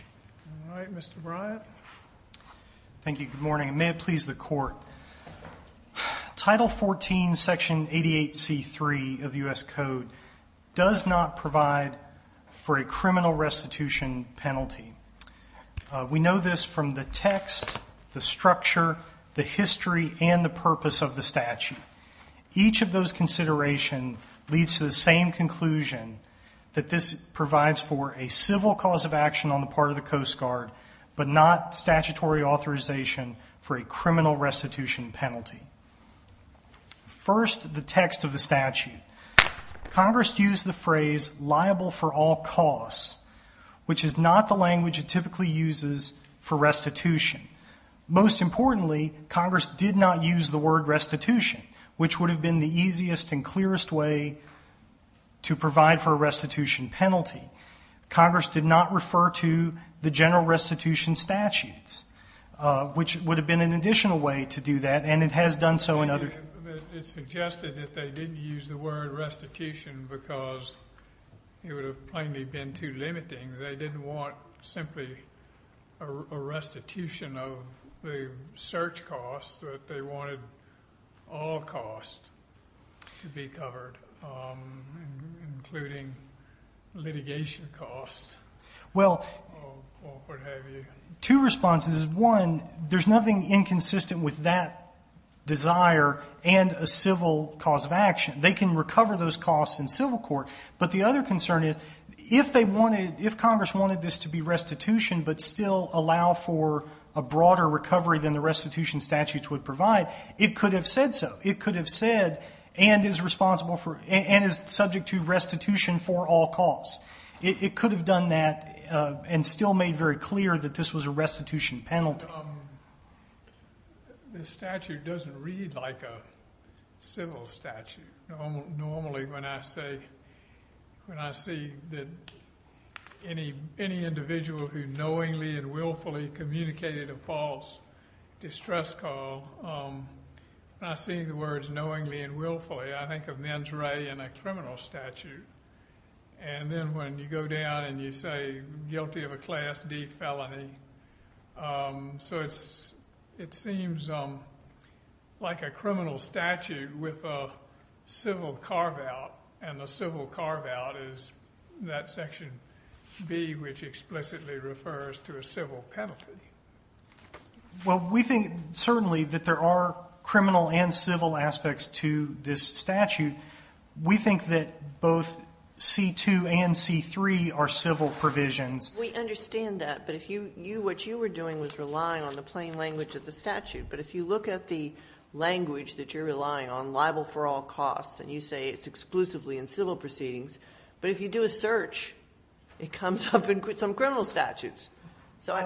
All right, Mr. Bryant. Thank you. Good morning. May it please the court. Title 14, section 88 c3 of the US Code does not provide for a criminal restitution penalty. We know this from the text, the structure, the history, and the purpose of the statute. Each of those considerations leads to the same conclusion that this provides for a civil cause of action on the part of the Coast Guard, but not statutory authorization for a criminal restitution penalty. First, the text of the statute. Congress used the phrase liable for all costs, which is not the language it typically uses for restitution. Most importantly, Congress did not use the word restitution, which would have been the easiest and clearest way to provide for a restitution penalty. Congress did not refer to the general restitution statutes, which would have been an additional way to do that, and it has done so in other... It suggested that they didn't use the word restitution because it would have plainly been too limiting. They didn't want simply a restitution of the search costs, but they wanted all costs to be covered, including litigation costs, or what have you. Two responses. One, there's nothing inconsistent with that desire and a civil cause of action. They can recover those costs in civil court, but the other concern is, if Congress wanted this to be restitution but still allow for a broader recovery than the restitution statutes would provide, it could have said so. It could have said, and is subject to restitution for all costs. It could have done that and still made very clear that this was a restitution penalty. The statute doesn't read like a civil statute. Normally, when I see that any individual who knowingly and willfully communicated a false distress call, when I see the words knowingly and willfully, I think of mens rea in a criminal statute. And then when you go down and you say, guilty of a class D felony, so it seems like a criminal statute with a civil carve-out, and the civil carve-out is that section B, which explicitly refers to a civil penalty. Well, we think certainly that there are criminal and civil aspects to this statute. We think that both C2 and C3 are civil provisions. We understand that, but what you were doing was relying on the plain language of the statute. But if you look at the language that you're relying on, libel for all costs, and you say it's exclusively in civil proceedings, but if you do a search, it comes up in some criminal statutes. So I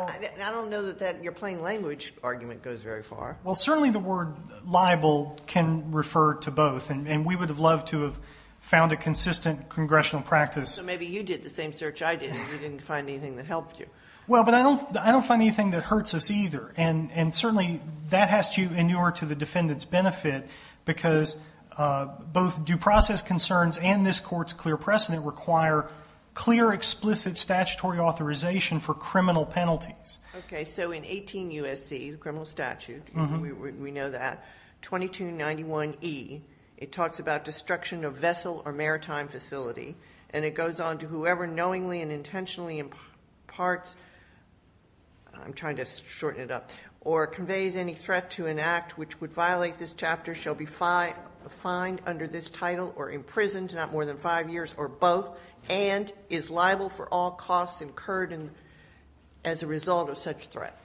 don't know that your plain language argument goes very far. Well, certainly the word libel can refer to both, and we would have loved to have found a consistent congressional practice. So maybe you did the same search I did, and you didn't find anything that helped you. Well, but I don't find anything that hurts us either. And certainly that has to do with both due process concerns and this court's clear precedent require clear explicit statutory authorization for criminal penalties. Okay. So in 18 U.S.C., the criminal statute, we know that, 2291E, it talks about destruction of vessel or maritime facility, and it goes on to whoever knowingly and intentionally imparts, I'm trying to shorten it up, or conveys any threat to an act which would violate this chapter shall be fined under this title or imprisoned not more than 5 years or both, and is liable for all costs incurred as a result of such threat.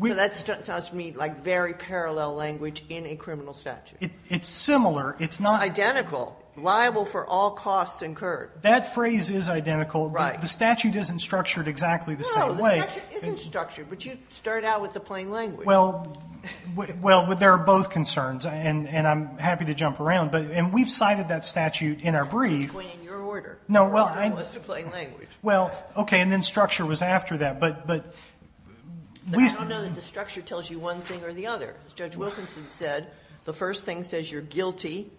So that sounds to me like very parallel language in a criminal statute. It's similar. It's not identical. Liable for all costs incurred. That phrase is identical. Right. The statute isn't structured exactly the same way. No, the statute isn't structured, but you start out with the plain language. Well, there are both concerns, and I'm happy to jump around, and we've cited that statute in our brief. It's going in your order. No, well, I'm— Your order was to plain language. Well, okay, and then structure was after that, but we— I don't know that the structure tells you one thing or the other. As Judge Wilkinson said, the first thing says you're guilty,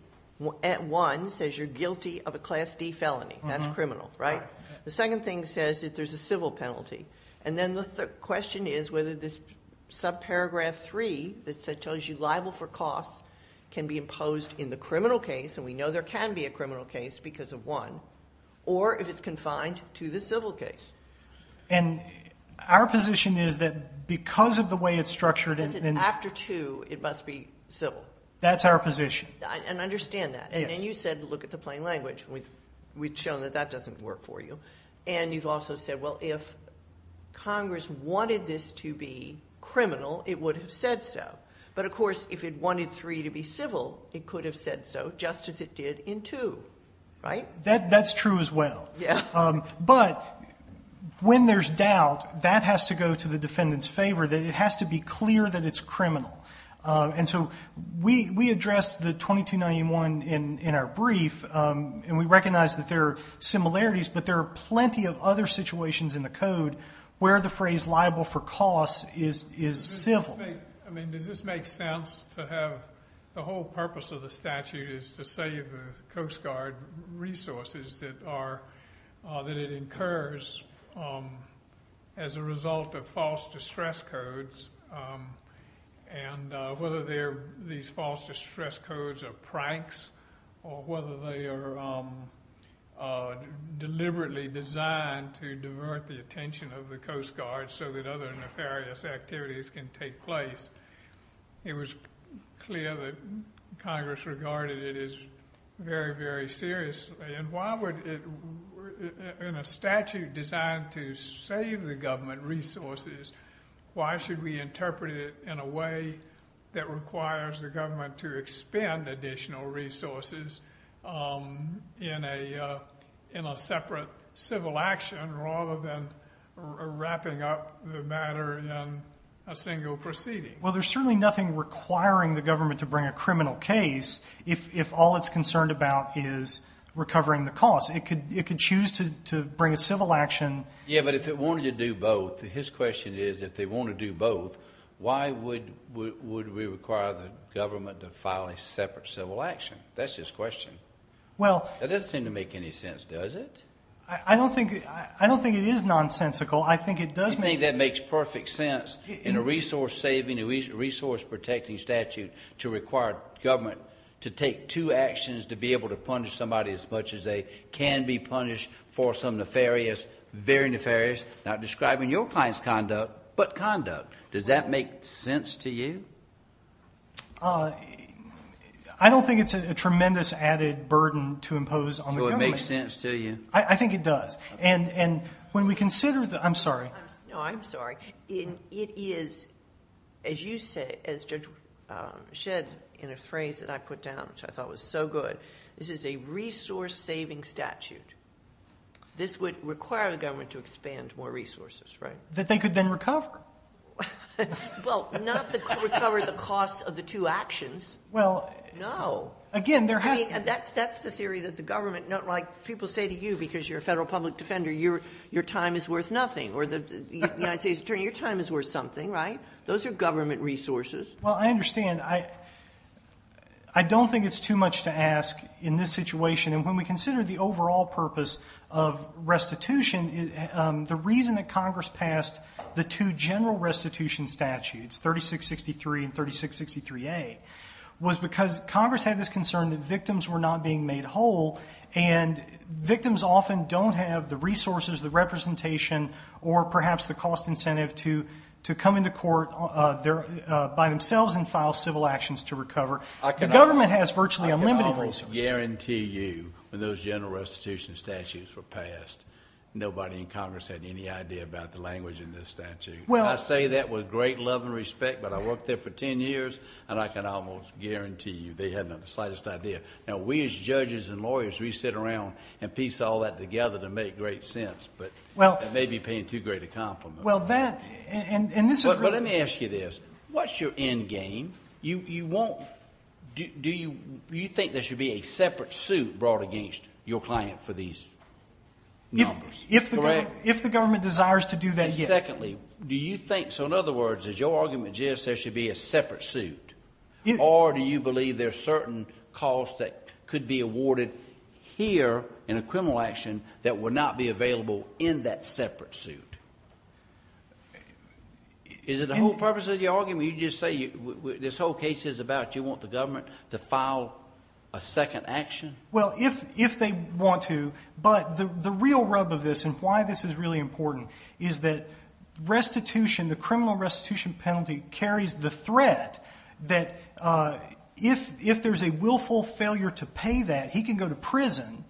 at one, says you're guilty of a Class D felony. That's criminal, right? The second thing says that there's a civil penalty, and then the question is whether this subparagraph three that tells you liable for costs can be imposed in the criminal case, and we know there can be a criminal case because of one, or if it's confined to the civil case. And our position is that because of the way it's structured— Because it's after two, it must be civil. That's our position. And understand that, and then you said, look at the plain language. We've shown that that doesn't work for you, and you've also said, well, if Congress wanted this to be criminal, it would have said so. But of course, if it wanted three to be civil, it could have said so, just as it did in two, right? That's true as well. Yeah. But when there's doubt, that has to go to the defendant's favor. It has to be clear that it's criminal. And so we addressed the 2291 in our brief, and we recognize that there are similarities, but there are plenty of other situations in the code where the phrase liable for costs is civil. I mean, does this make sense to have—the whole purpose of the statute is to save the Coast Guard resources that it incurs as a result of false distress codes, and whether these false distress codes are pranks or whether they are deliberately designed to divert the attention of the Coast Guard so that other nefarious activities can take place. It was clear that Congress regarded it as very, very serious. And why would it—in a statute designed to save the government resources, why should we interpret it in a way that requires the government to expend additional resources in a separate civil action rather than wrapping up the matter in a single proceeding? Well, there's certainly nothing requiring the government to bring a criminal case if all it's concerned about is recovering the costs. It could choose to bring a civil action— Yeah, but if it wanted to do both, his question is, if they want to do both, why would we require the government to file a separate civil action? That's his question. Well— That doesn't seem to make any sense, does it? I don't think it is nonsensical. I think it does make— You think that makes perfect sense in a resource-saving, a resource-protecting statute to require government to take two actions to be able to punish somebody as much as they can be punished for some nefarious—very nefarious, not describing your client's conduct, but conduct. Does that make sense to you? I don't think it's a tremendous added burden to impose on the government. So it makes sense to you? I think it does. And when we consider the—I'm sorry. No, I'm sorry. It is, as you said, as Judge Shedd, in a phrase that I put down, which I thought was so good. This is a resource-saving statute. This would require the government to expand more resources, right? That they could then recover. Well, not recover the costs of the two actions. Well— No. Again, there has to be— That's the theory that the government—not like people say to you, because you're a federal public defender, your time is worth nothing. Or the United States Attorney, your time is worth something, right? Those are government resources. Well, I understand. I don't think it's too much to ask in this situation. And when we consider the overall purpose of restitution, the reason that Congress passed the two general restitution statutes, 3663 and 3663A, was because Congress had this concern that victims were not being made whole, and victims often don't have the resources, the representation, or perhaps the cost incentive to come into court by themselves and file civil actions to recover. I can almost guarantee you, when those general restitution statutes were passed, nobody in Congress had any idea about the language in this statute. Well— I say that with great love and respect, but I worked there for 10 years, and I can almost guarantee you they hadn't the slightest idea. Now, we as judges and lawyers, we sit around and piece all that together to make great sense. But that may be paying too great a compliment. Well, that— But let me ask you this. What's your end game? You won't—do you think there should be a separate suit brought against your client for these numbers? If the government desires to do that, yes. Secondly, do you think—so in other words, as your argument is, there should be a separate suit. Or do you believe there's certain costs that could be awarded here in a criminal action that would not be available in that separate suit? Is it the whole purpose of your argument? You just say this whole case is about you want the government to file a second action? Well, if they want to. But the real rub of this, and why this is really important, is that restitution, the criminal restitution penalty, carries the threat that if there's a willful failure to pay that, he can go to prison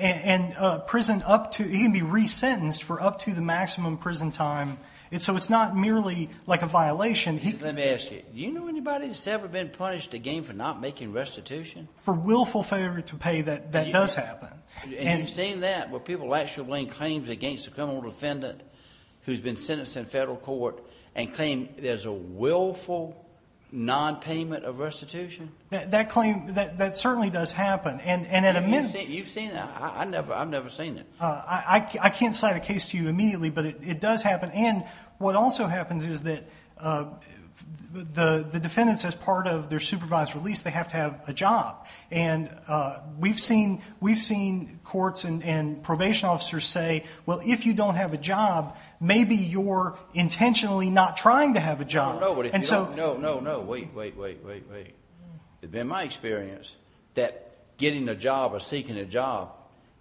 and prison up to—he can be resentenced for up to the maximum prison time. So it's not merely like a violation. Let me ask you. Do you know anybody that's ever been punished again for not making restitution? For willful failure to pay, that does happen. And you've seen that, where people actually claim against a criminal defendant who's been sentenced in federal court and claim there's a willful non-payment of restitution? That claim—that certainly does happen. And at a minute— You've seen that? I've never seen it. I can't cite a case to you immediately, but it does happen. And what also happens is that the defendants, as part of their supervised release, they have to have a job. And we've seen courts and probation officers say, well, if you don't have a job, maybe you're intentionally not trying to have a job. I don't know, but if you don't—no, no, no. Wait, wait, wait, wait, wait. It's been my experience that getting a job or seeking a job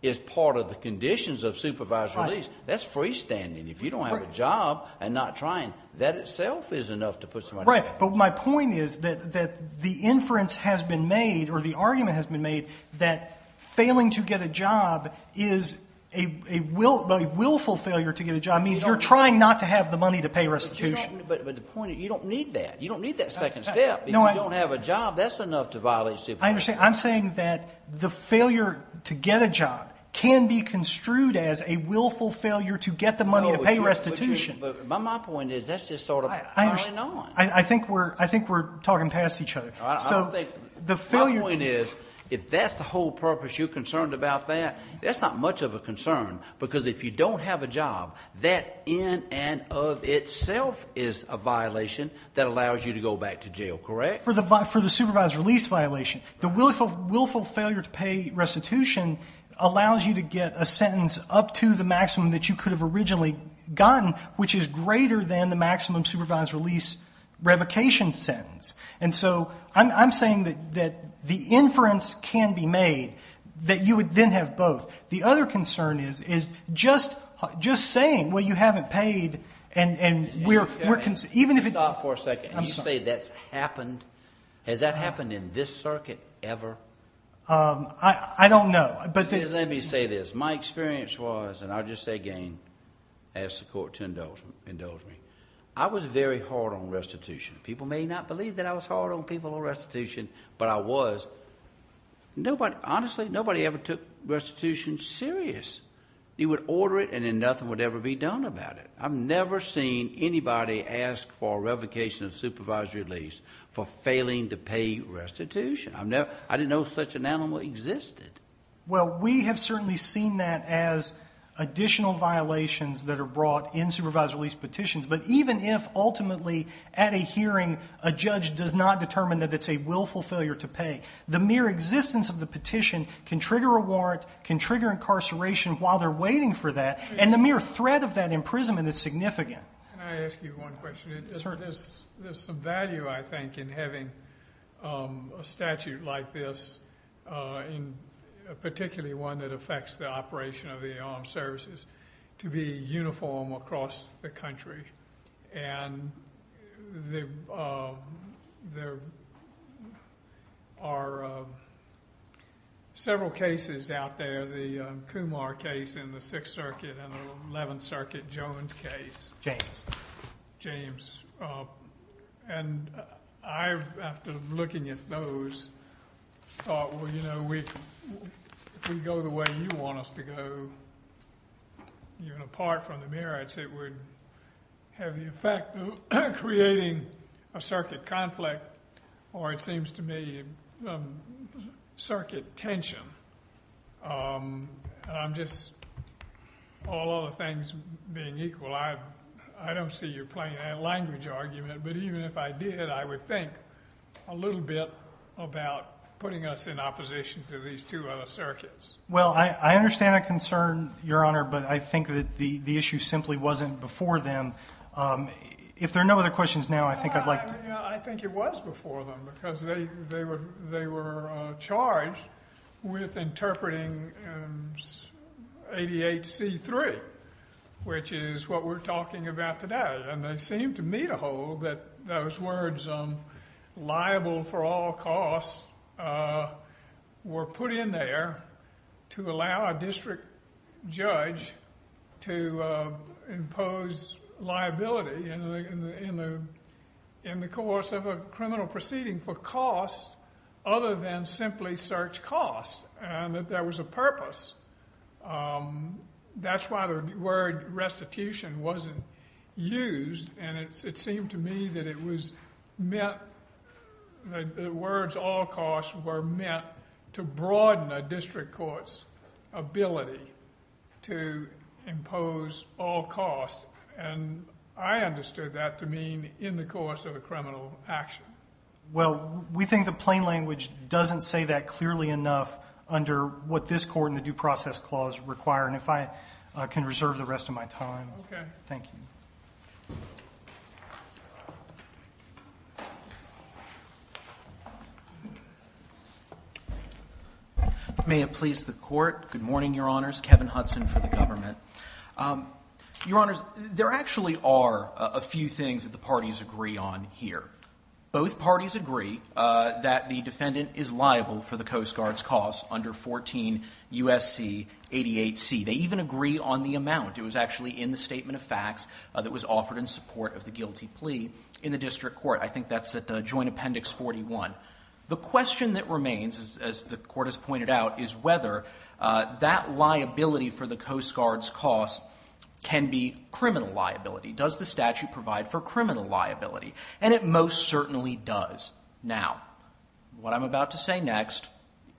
is part of the conditions of supervised release. That's freestanding. If you don't have a job and not trying, that itself is enough to put somebody— Right, but my point is that the inference has been made, or the argument has been made, that failing to get a job is a willful failure to get a job, means you're trying not to have the money to pay restitution. But the point is, you don't need that. You don't need that second step. If you don't have a job, that's enough to violate supervised release. I understand. I'm saying that the failure to get a job can be construed as a willful failure to get the money to pay restitution. But my point is, that's just sort of early on. I think we're talking past each other. I don't think— The failure— My point is, if that's the whole purpose, you're concerned about that, that's not much of a concern, because if you don't have a job, that in and of itself is a violation that allows you to go back to jail, correct? For the supervised release violation, the willful failure to pay restitution allows you to get a sentence up to the maximum that you could have originally gotten, which is greater than the maximum supervised release revocation sentence. And so I'm saying that the inference can be made, that you would then have both. The other concern is just saying, well, you haven't paid, and we're concerned— Stop for a second. I'm sorry. Can you say that's happened? Has that happened in this circuit ever? I don't know, but— Let me say this. My experience was, and I'll just say again, ask the court to indulge me. I was very hard on restitution. People may not believe that I was hard on people on restitution, but I was. Nobody, honestly, nobody ever took restitution serious. You would order it, and then nothing would ever be done about it. I've never seen anybody ask for a revocation of supervised release for failing to pay restitution. I didn't know such an animal existed. Well, we have certainly seen that as additional violations that are brought in supervised release petitions, but even if ultimately at a hearing, a judge does not determine that it's a willful failure to pay, mere existence of the petition can trigger a warrant, can trigger incarceration while they're waiting for that, and the mere threat of that imprisonment is significant. Can I ask you one question? There's some value, I think, in having a statute like this, in particularly one that affects the operation of the armed services, to be uniform across the country. And there are several cases out there. The Kumar case in the Sixth Circuit and the Eleventh Circuit, Jones case. James. James. And I, after looking at those, thought, well, you know, if we go the way you want us to go, even apart from the merits, it would have the effect of creating a circuit conflict, or it seems to me, circuit tension. And I'm just, all other things being equal, I don't see you playing that language argument, but even if I did, I would think a little bit about putting us in opposition to these two other circuits. Well, I understand that concern, Your Honor, but I think that the issue simply wasn't before them. If there are no other questions now, I think I'd like to... I think it was before them, because they were charged with interpreting 88C3, which is what we're talking about today. And they seem to me to hold that those words, liable for all costs, were put in there to allow a district judge to impose liability in the course of a criminal proceeding for costs other than simply search costs, and that there was a purpose. That's why the word restitution wasn't used, and it seemed to me that it was meant, that the words all costs were meant to broaden a district court's ability to impose all costs. And I understood that to mean in the course of a criminal action. Well, we think the plain language doesn't say that clearly enough under what this court and the Due Process Clause require. And if I can reserve the rest of my time, thank you. Thank you. May it please the Court. Good morning, Your Honors. Kevin Hudson for the government. Your Honors, there actually are a few things that the parties agree on here. Both parties agree that the defendant is liable for the Coast Guard's costs under 14 U.S.C. 88C. They even agree on the amount. It was actually in the Statement of Facts that was offered in support of the guilty plea in the district court. I think that's at Joint Appendix 41. The question that remains, as the Court has pointed out, is whether that liability for the Coast Guard's costs can be criminal liability. Does the statute provide for criminal liability? And it most certainly does. Now, what I'm about to say next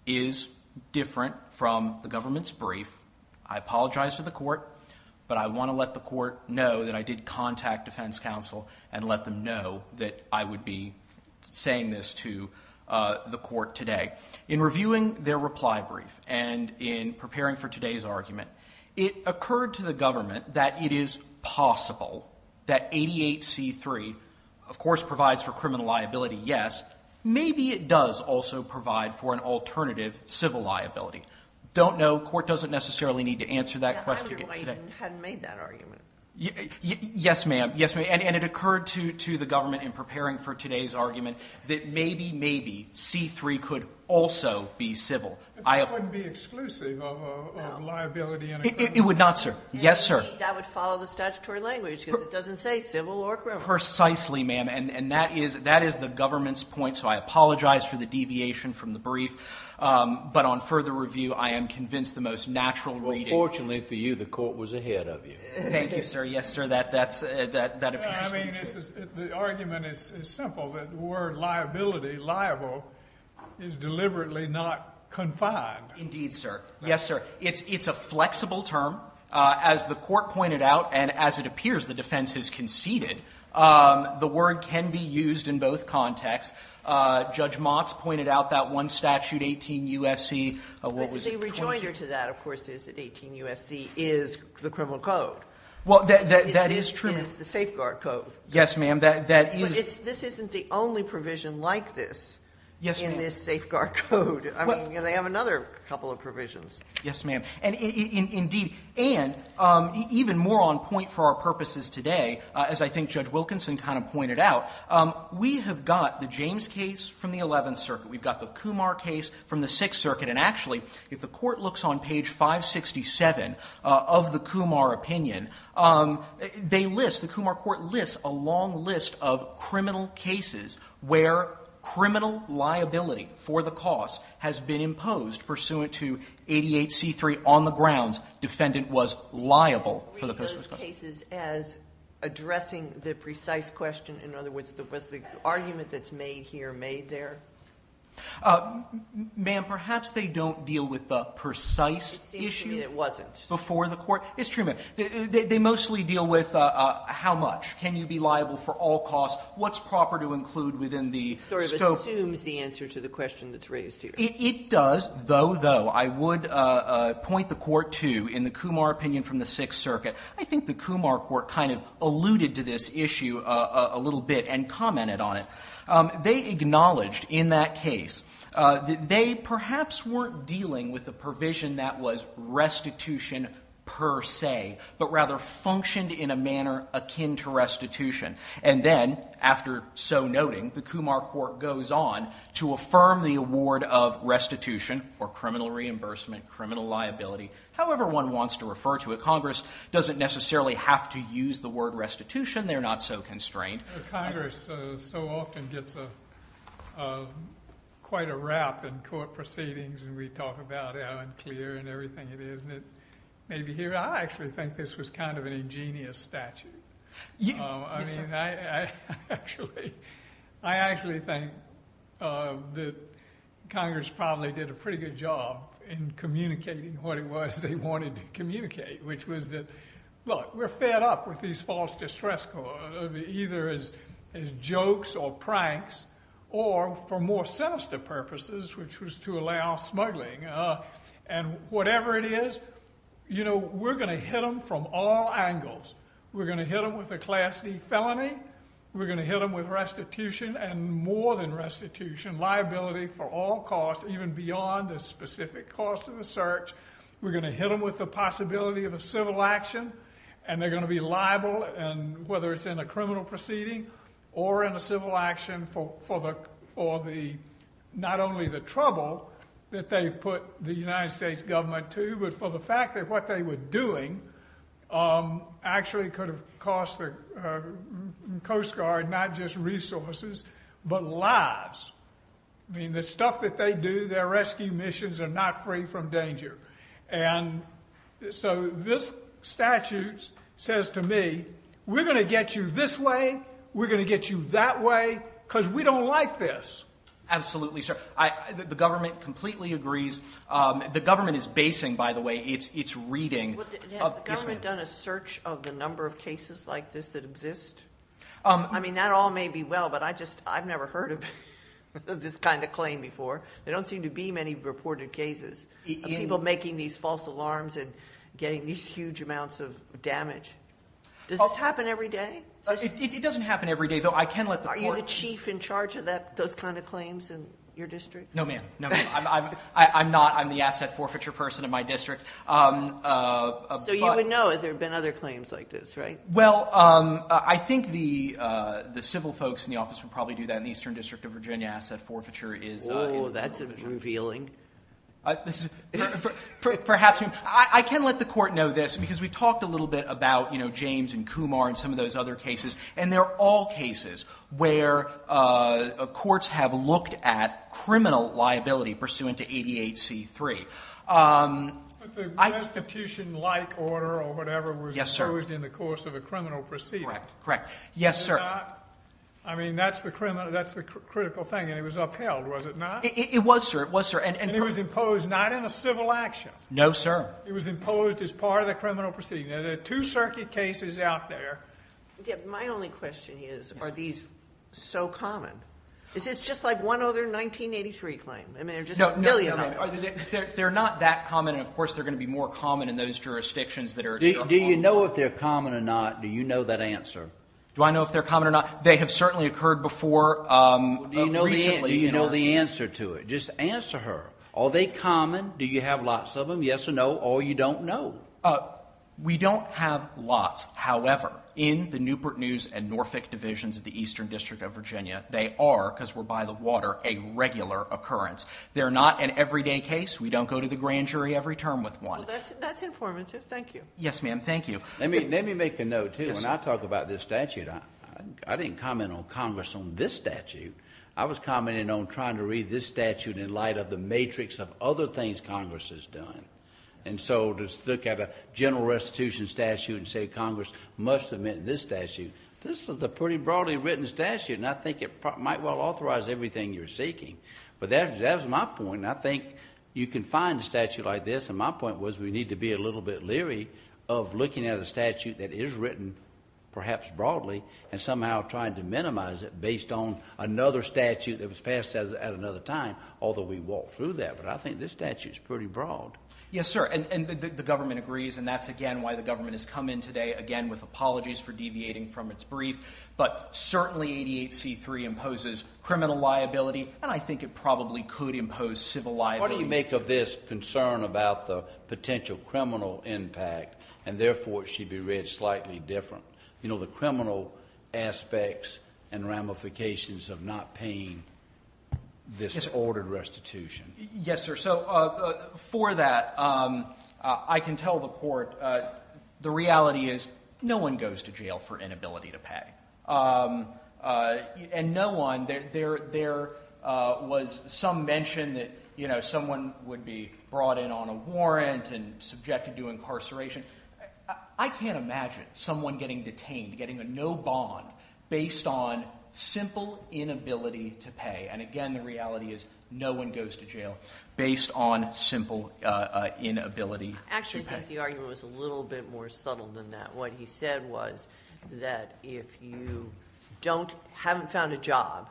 is different from the government's brief. I apologize to the Court, but I want to let the Court know that I did contact defense counsel and let them know that I would be saying this to the Court today. In reviewing their reply brief and in preparing for today's argument, it occurred to the government that it is possible that 88C.3, of course, provides for criminal liability, yes. Maybe it does also provide for an alternative civil liability. Don't know. Court doesn't necessarily need to answer that question. I wonder why you hadn't made that argument. Yes, ma'am. And it occurred to the government in preparing for today's argument that maybe, maybe, C.3 could also be civil. That wouldn't be exclusive of liability. It would not, sir. Yes, sir. That would follow the statutory language, because it doesn't say civil or criminal. Precisely, ma'am. And that is the government's point. So I apologize for the deviation from the brief. But on further review, I am convinced the most natural reading. Well, fortunately for you, the Court was ahead of you. Thank you, sir. Yes, sir. That appears to be true. The argument is simple, that the word liability, liable, is deliberately not confined. Indeed, sir. Yes, sir. It's a flexible term. As the Court pointed out, and as it appears the defense has conceded, the word can be used in both contexts. Judge Motz pointed out that one statute, 18 U.S.C., what was it? The rejoinder to that, of course, is that 18 U.S.C. is the criminal code. Well, that is true. It is the safeguard code. Yes, ma'am. This isn't the only provision like this in this safeguard code. I mean, they have another couple of provisions. Yes, ma'am. And indeed, and even more on point for our purposes today, as I think Judge Wilkinson kind of pointed out, we have got the James case from the Eleventh Circuit. We've got the Kumar case from the Sixth Circuit. And actually, if the Court looks on page 567 of the Kumar opinion, they list, the Kumar Court lists a long list of criminal cases where criminal liability for the cause has been imposed pursuant to 88C3 on the grounds defendant was liable. Read those cases as addressing the precise question. In other words, was the argument that's made here made there? Ma'am, perhaps they don't deal with the precise issue. It seems to me it wasn't. Before the Court. It's true, ma'am. They mostly deal with how much. Can you be liable for all costs? What's proper to include within the scope? It sort of assumes the answer to the question that's raised here. It does, though, though, I would point the Court to, in the Kumar opinion from the Sixth Circuit, I think the Kumar Court kind of alluded to this issue a little bit and commented on it. They acknowledged in that case that they perhaps weren't dealing with the provision that was restitution per se, but rather functioned in a manner akin to restitution. And then, after so noting, the Kumar Court goes on to affirm the award of restitution or criminal reimbursement, criminal liability, however one wants to refer to it. Congress doesn't necessarily have to use the word restitution. They're not so constrained. The Congress so often gets quite a rap in court proceedings, and we talk about how unclear and everything it is, and it may be here. I actually think this was kind of an ingenious statute. I mean, I actually think that Congress probably did a pretty good job in communicating what it was they wanted to communicate, which was that, look, we're fed up with these false distress either as jokes or pranks or, for more sinister purposes, which was to allow smuggling. And whatever it is, you know, we're going to hit them from all angles. We're going to hit them with a Class D felony. We're going to hit them with restitution and more than restitution, liability for all costs, even beyond the specific cost of the search. We're going to hit them with the possibility of a civil action, and they're going to be liable, and whether it's in a criminal proceeding or in a civil action, for not only the trouble that they've put the United States government to, but for the fact that what they were doing actually could have cost the Coast Guard not just resources, but lives. I mean, the stuff that they do, their rescue missions are not free from danger. And so this statute says to me, we're going to get you this way, we're going to get you that way, because we don't like this. Absolutely, sir. The government completely agrees. The government is basing, by the way, its reading. Has the government done a search of the number of cases like this that exist? I mean, that all may be well, but I've never heard of this kind of claim before. There don't seem to be many reported cases of people making these false alarms and getting these huge amounts of damage. Does this happen every day? It doesn't happen every day, though. I can let the court- Are you the chief in charge of those kind of claims in your district? No, ma'am. No, ma'am. I'm not. I'm the asset forfeiture person in my district. So you would know if there have been other claims like this, right? Well, I think the civil folks in the office would probably do that in the Eastern District of Virginia. Asset forfeiture is- Oh, that's revealing. Perhaps. I can let the court know this, because we talked a little bit about James and Kumar and some of those other cases, and they're all cases where courts have looked at criminal liability pursuant to 88C3. But the restitution-like order or whatever was imposed in the course of a criminal proceeding. Correct. Correct. Yes, sir. I mean, that's the critical thing, and it was upheld, was it not? It was, sir. It was, sir. And it was imposed not in a civil action. No, sir. It was imposed as part of the criminal proceeding. Now, there are two circuit cases out there. My only question is, are these so common? Is this just like one other 1983 claim? I mean, there are just a million of them. They're not that common. And of course, they're going to be more common in those jurisdictions that are- Do you know if they're common or not? Do you know that answer? Do I know if they're common or not? They have certainly occurred before recently. Do you know the answer to it? Just answer her. Are they common? Do you have lots of them? Yes or no? Or you don't know? We don't have lots. However, in the Newport News and Norfolk Divisions of the Eastern District of Virginia, they are, because we're by the water, a regular occurrence. They're not an everyday case. We don't go to the grand jury every term with one. Well, that's informative. Thank you. Yes, ma'am. Thank you. Let me make a note, too. When I talk about this statute, I didn't comment on Congress on this statute. I was commenting on trying to read this statute in light of the matrix of other things Congress has done. And so to look at a general restitution statute and say Congress must submit this statute, this is a pretty broadly written statute. And I think it might well authorize everything you're seeking. But that was my point. I think you can find a statute like this. And my point was we need to be a little bit leery of looking at a statute that is written, perhaps broadly, and somehow trying to minimize it based on another statute that was passed at another time. Although we walked through that. But I think this statute is pretty broad. Yes, sir. And the government agrees. And that's, again, why the government has come in today, again, with apologies for deviating from its brief. But certainly 88C3 imposes criminal liability. And I think it probably could impose civil liability. What do you make of this concern about the potential criminal impact? And therefore, it should be read slightly different. You know, the criminal aspects and ramifications of not paying this ordered restitution. Yes, sir. So for that, I can tell the court the reality is no one goes to jail for inability to pay. And no one, there was some mention that, you know, someone would be brought in on a warrant and subjected to incarceration. I can't imagine someone getting detained, getting a no bond based on simple inability to pay. And again, the reality is no one goes to jail based on simple inability to pay. Actually, I think the argument was a little bit more subtle than that. What he said was that if you don't, haven't found a job,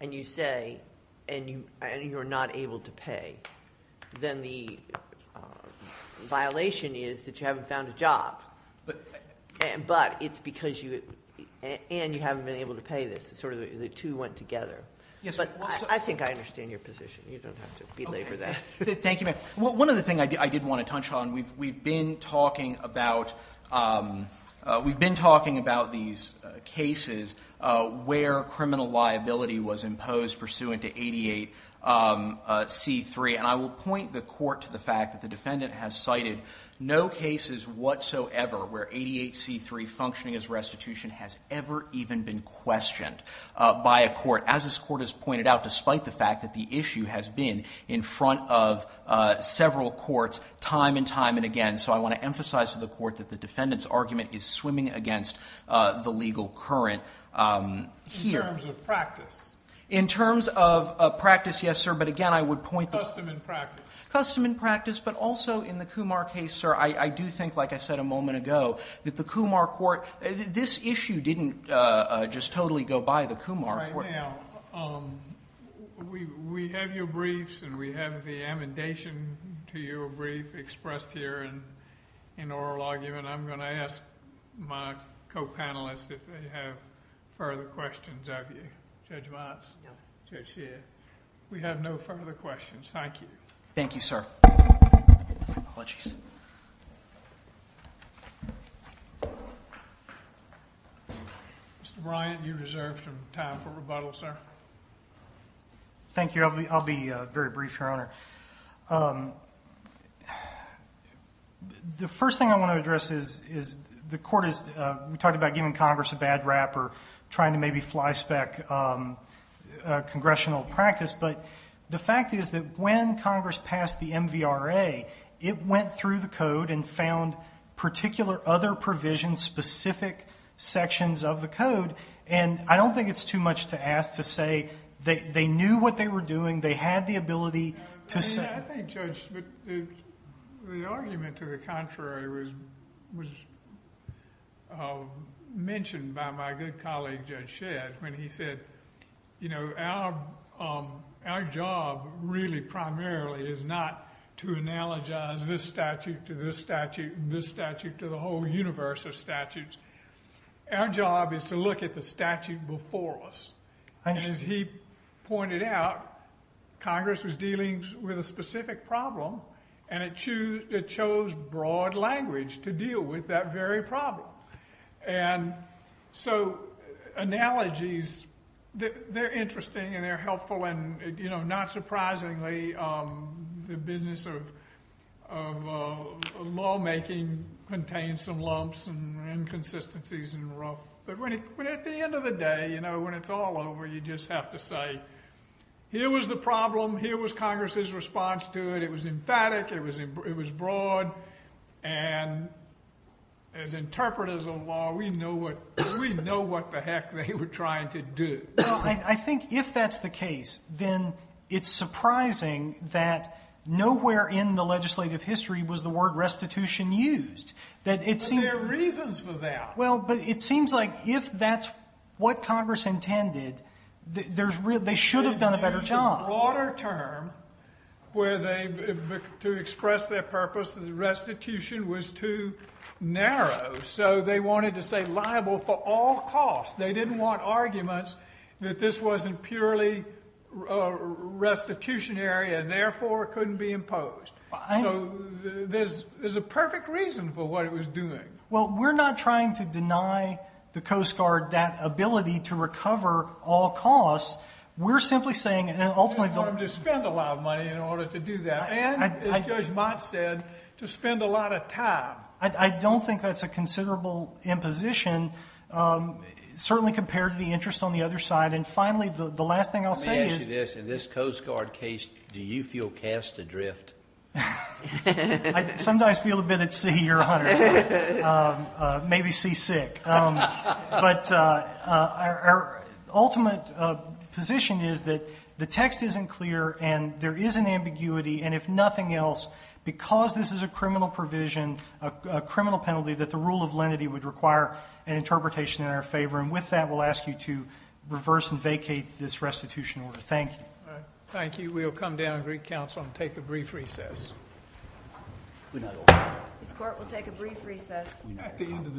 and you say, and you're not able to pay, then the violation is that you haven't found a job. But it's because you, and you haven't been able to pay this. Sort of the two went together. Yes. But I think I understand your position. Thank you, ma'am. One of the things I did want to touch on, we've been talking about these cases where criminal liability was imposed pursuant to 88C3. And I will point the court to the fact that the defendant has cited no cases whatsoever where 88C3 functioning as restitution has ever even been questioned by a court, as this several courts, time and time and again. So I want to emphasize to the court that the defendant's argument is swimming against the legal current here. In terms of practice. In terms of practice, yes, sir. But again, I would point the- Custom and practice. Custom and practice. But also in the Kumar case, sir, I do think, like I said a moment ago, that the Kumar court, this issue didn't just totally go by the Kumar court. Right now, we have your briefs, and we have the amendation to your brief expressed here in oral argument. I'm going to ask my co-panelists if they have further questions of you. Judge Watts? No. Judge Sheehan? Thank you. Thank you, sir. Apologies. Mr. Bryant, you deserve some time for rebuttal, sir. Thank you. I'll be very brief, Your Honor. The first thing I want to address is the court is, we talked about giving Congress a bad rap or trying to maybe flyspeck congressional practice. But the fact is that when Congress passed the MVRA, it went through the code and found particular other provisions, specific sections of the code. And I don't think it's too much to ask to say they knew what they were doing. They had the ability to say- I think, Judge, the argument to the contrary was mentioned by my good colleague, Judge Our job really primarily is not to analogize this statute to this statute and this statute to the whole universe of statutes. Our job is to look at the statute before us. And as he pointed out, Congress was dealing with a specific problem, and it chose broad language to deal with that very problem. And so analogies, they're interesting and they're helpful. And not surprisingly, the business of lawmaking contains some lumps and inconsistencies. But at the end of the day, when it's all over, you just have to say, here was the problem. Here was Congress's response to it. It was emphatic. It was broad. And as interpreters of law, we know what the heck they were trying to do. Well, I think if that's the case, then it's surprising that nowhere in the legislative history was the word restitution used. But there are reasons for that. Well, but it seems like if that's what Congress intended, they should have done a better job. In a broader term, to express their purpose, the restitution was too narrow. So they wanted to say liable for all costs. They didn't want arguments that this wasn't purely restitutionary and therefore couldn't be imposed. So there's a perfect reason for what it was doing. Well, we're not trying to deny the Coast Guard that ability to recover all costs. We're simply saying, and ultimately— You didn't want them to spend a lot of money in order to do that. And, as Judge Mott said, to spend a lot of time. I don't think that's a considerable imposition, certainly compared to the interest on the other side. And finally, the last thing I'll say is— Let me ask you this. In this Coast Guard case, do you feel cast adrift? I sometimes feel a bit at sea, Your Honor, maybe seasick. But our ultimate position is that the text isn't clear and there is an ambiguity. And if nothing else, because this is a criminal provision, a criminal penalty, that the rule of lenity would require an interpretation in our favor. And with that, we'll ask you to reverse and vacate this restitution order. Thank you. Thank you. We'll come down to Greek Council and take a brief recess. This Court will take a brief recess. Thank you.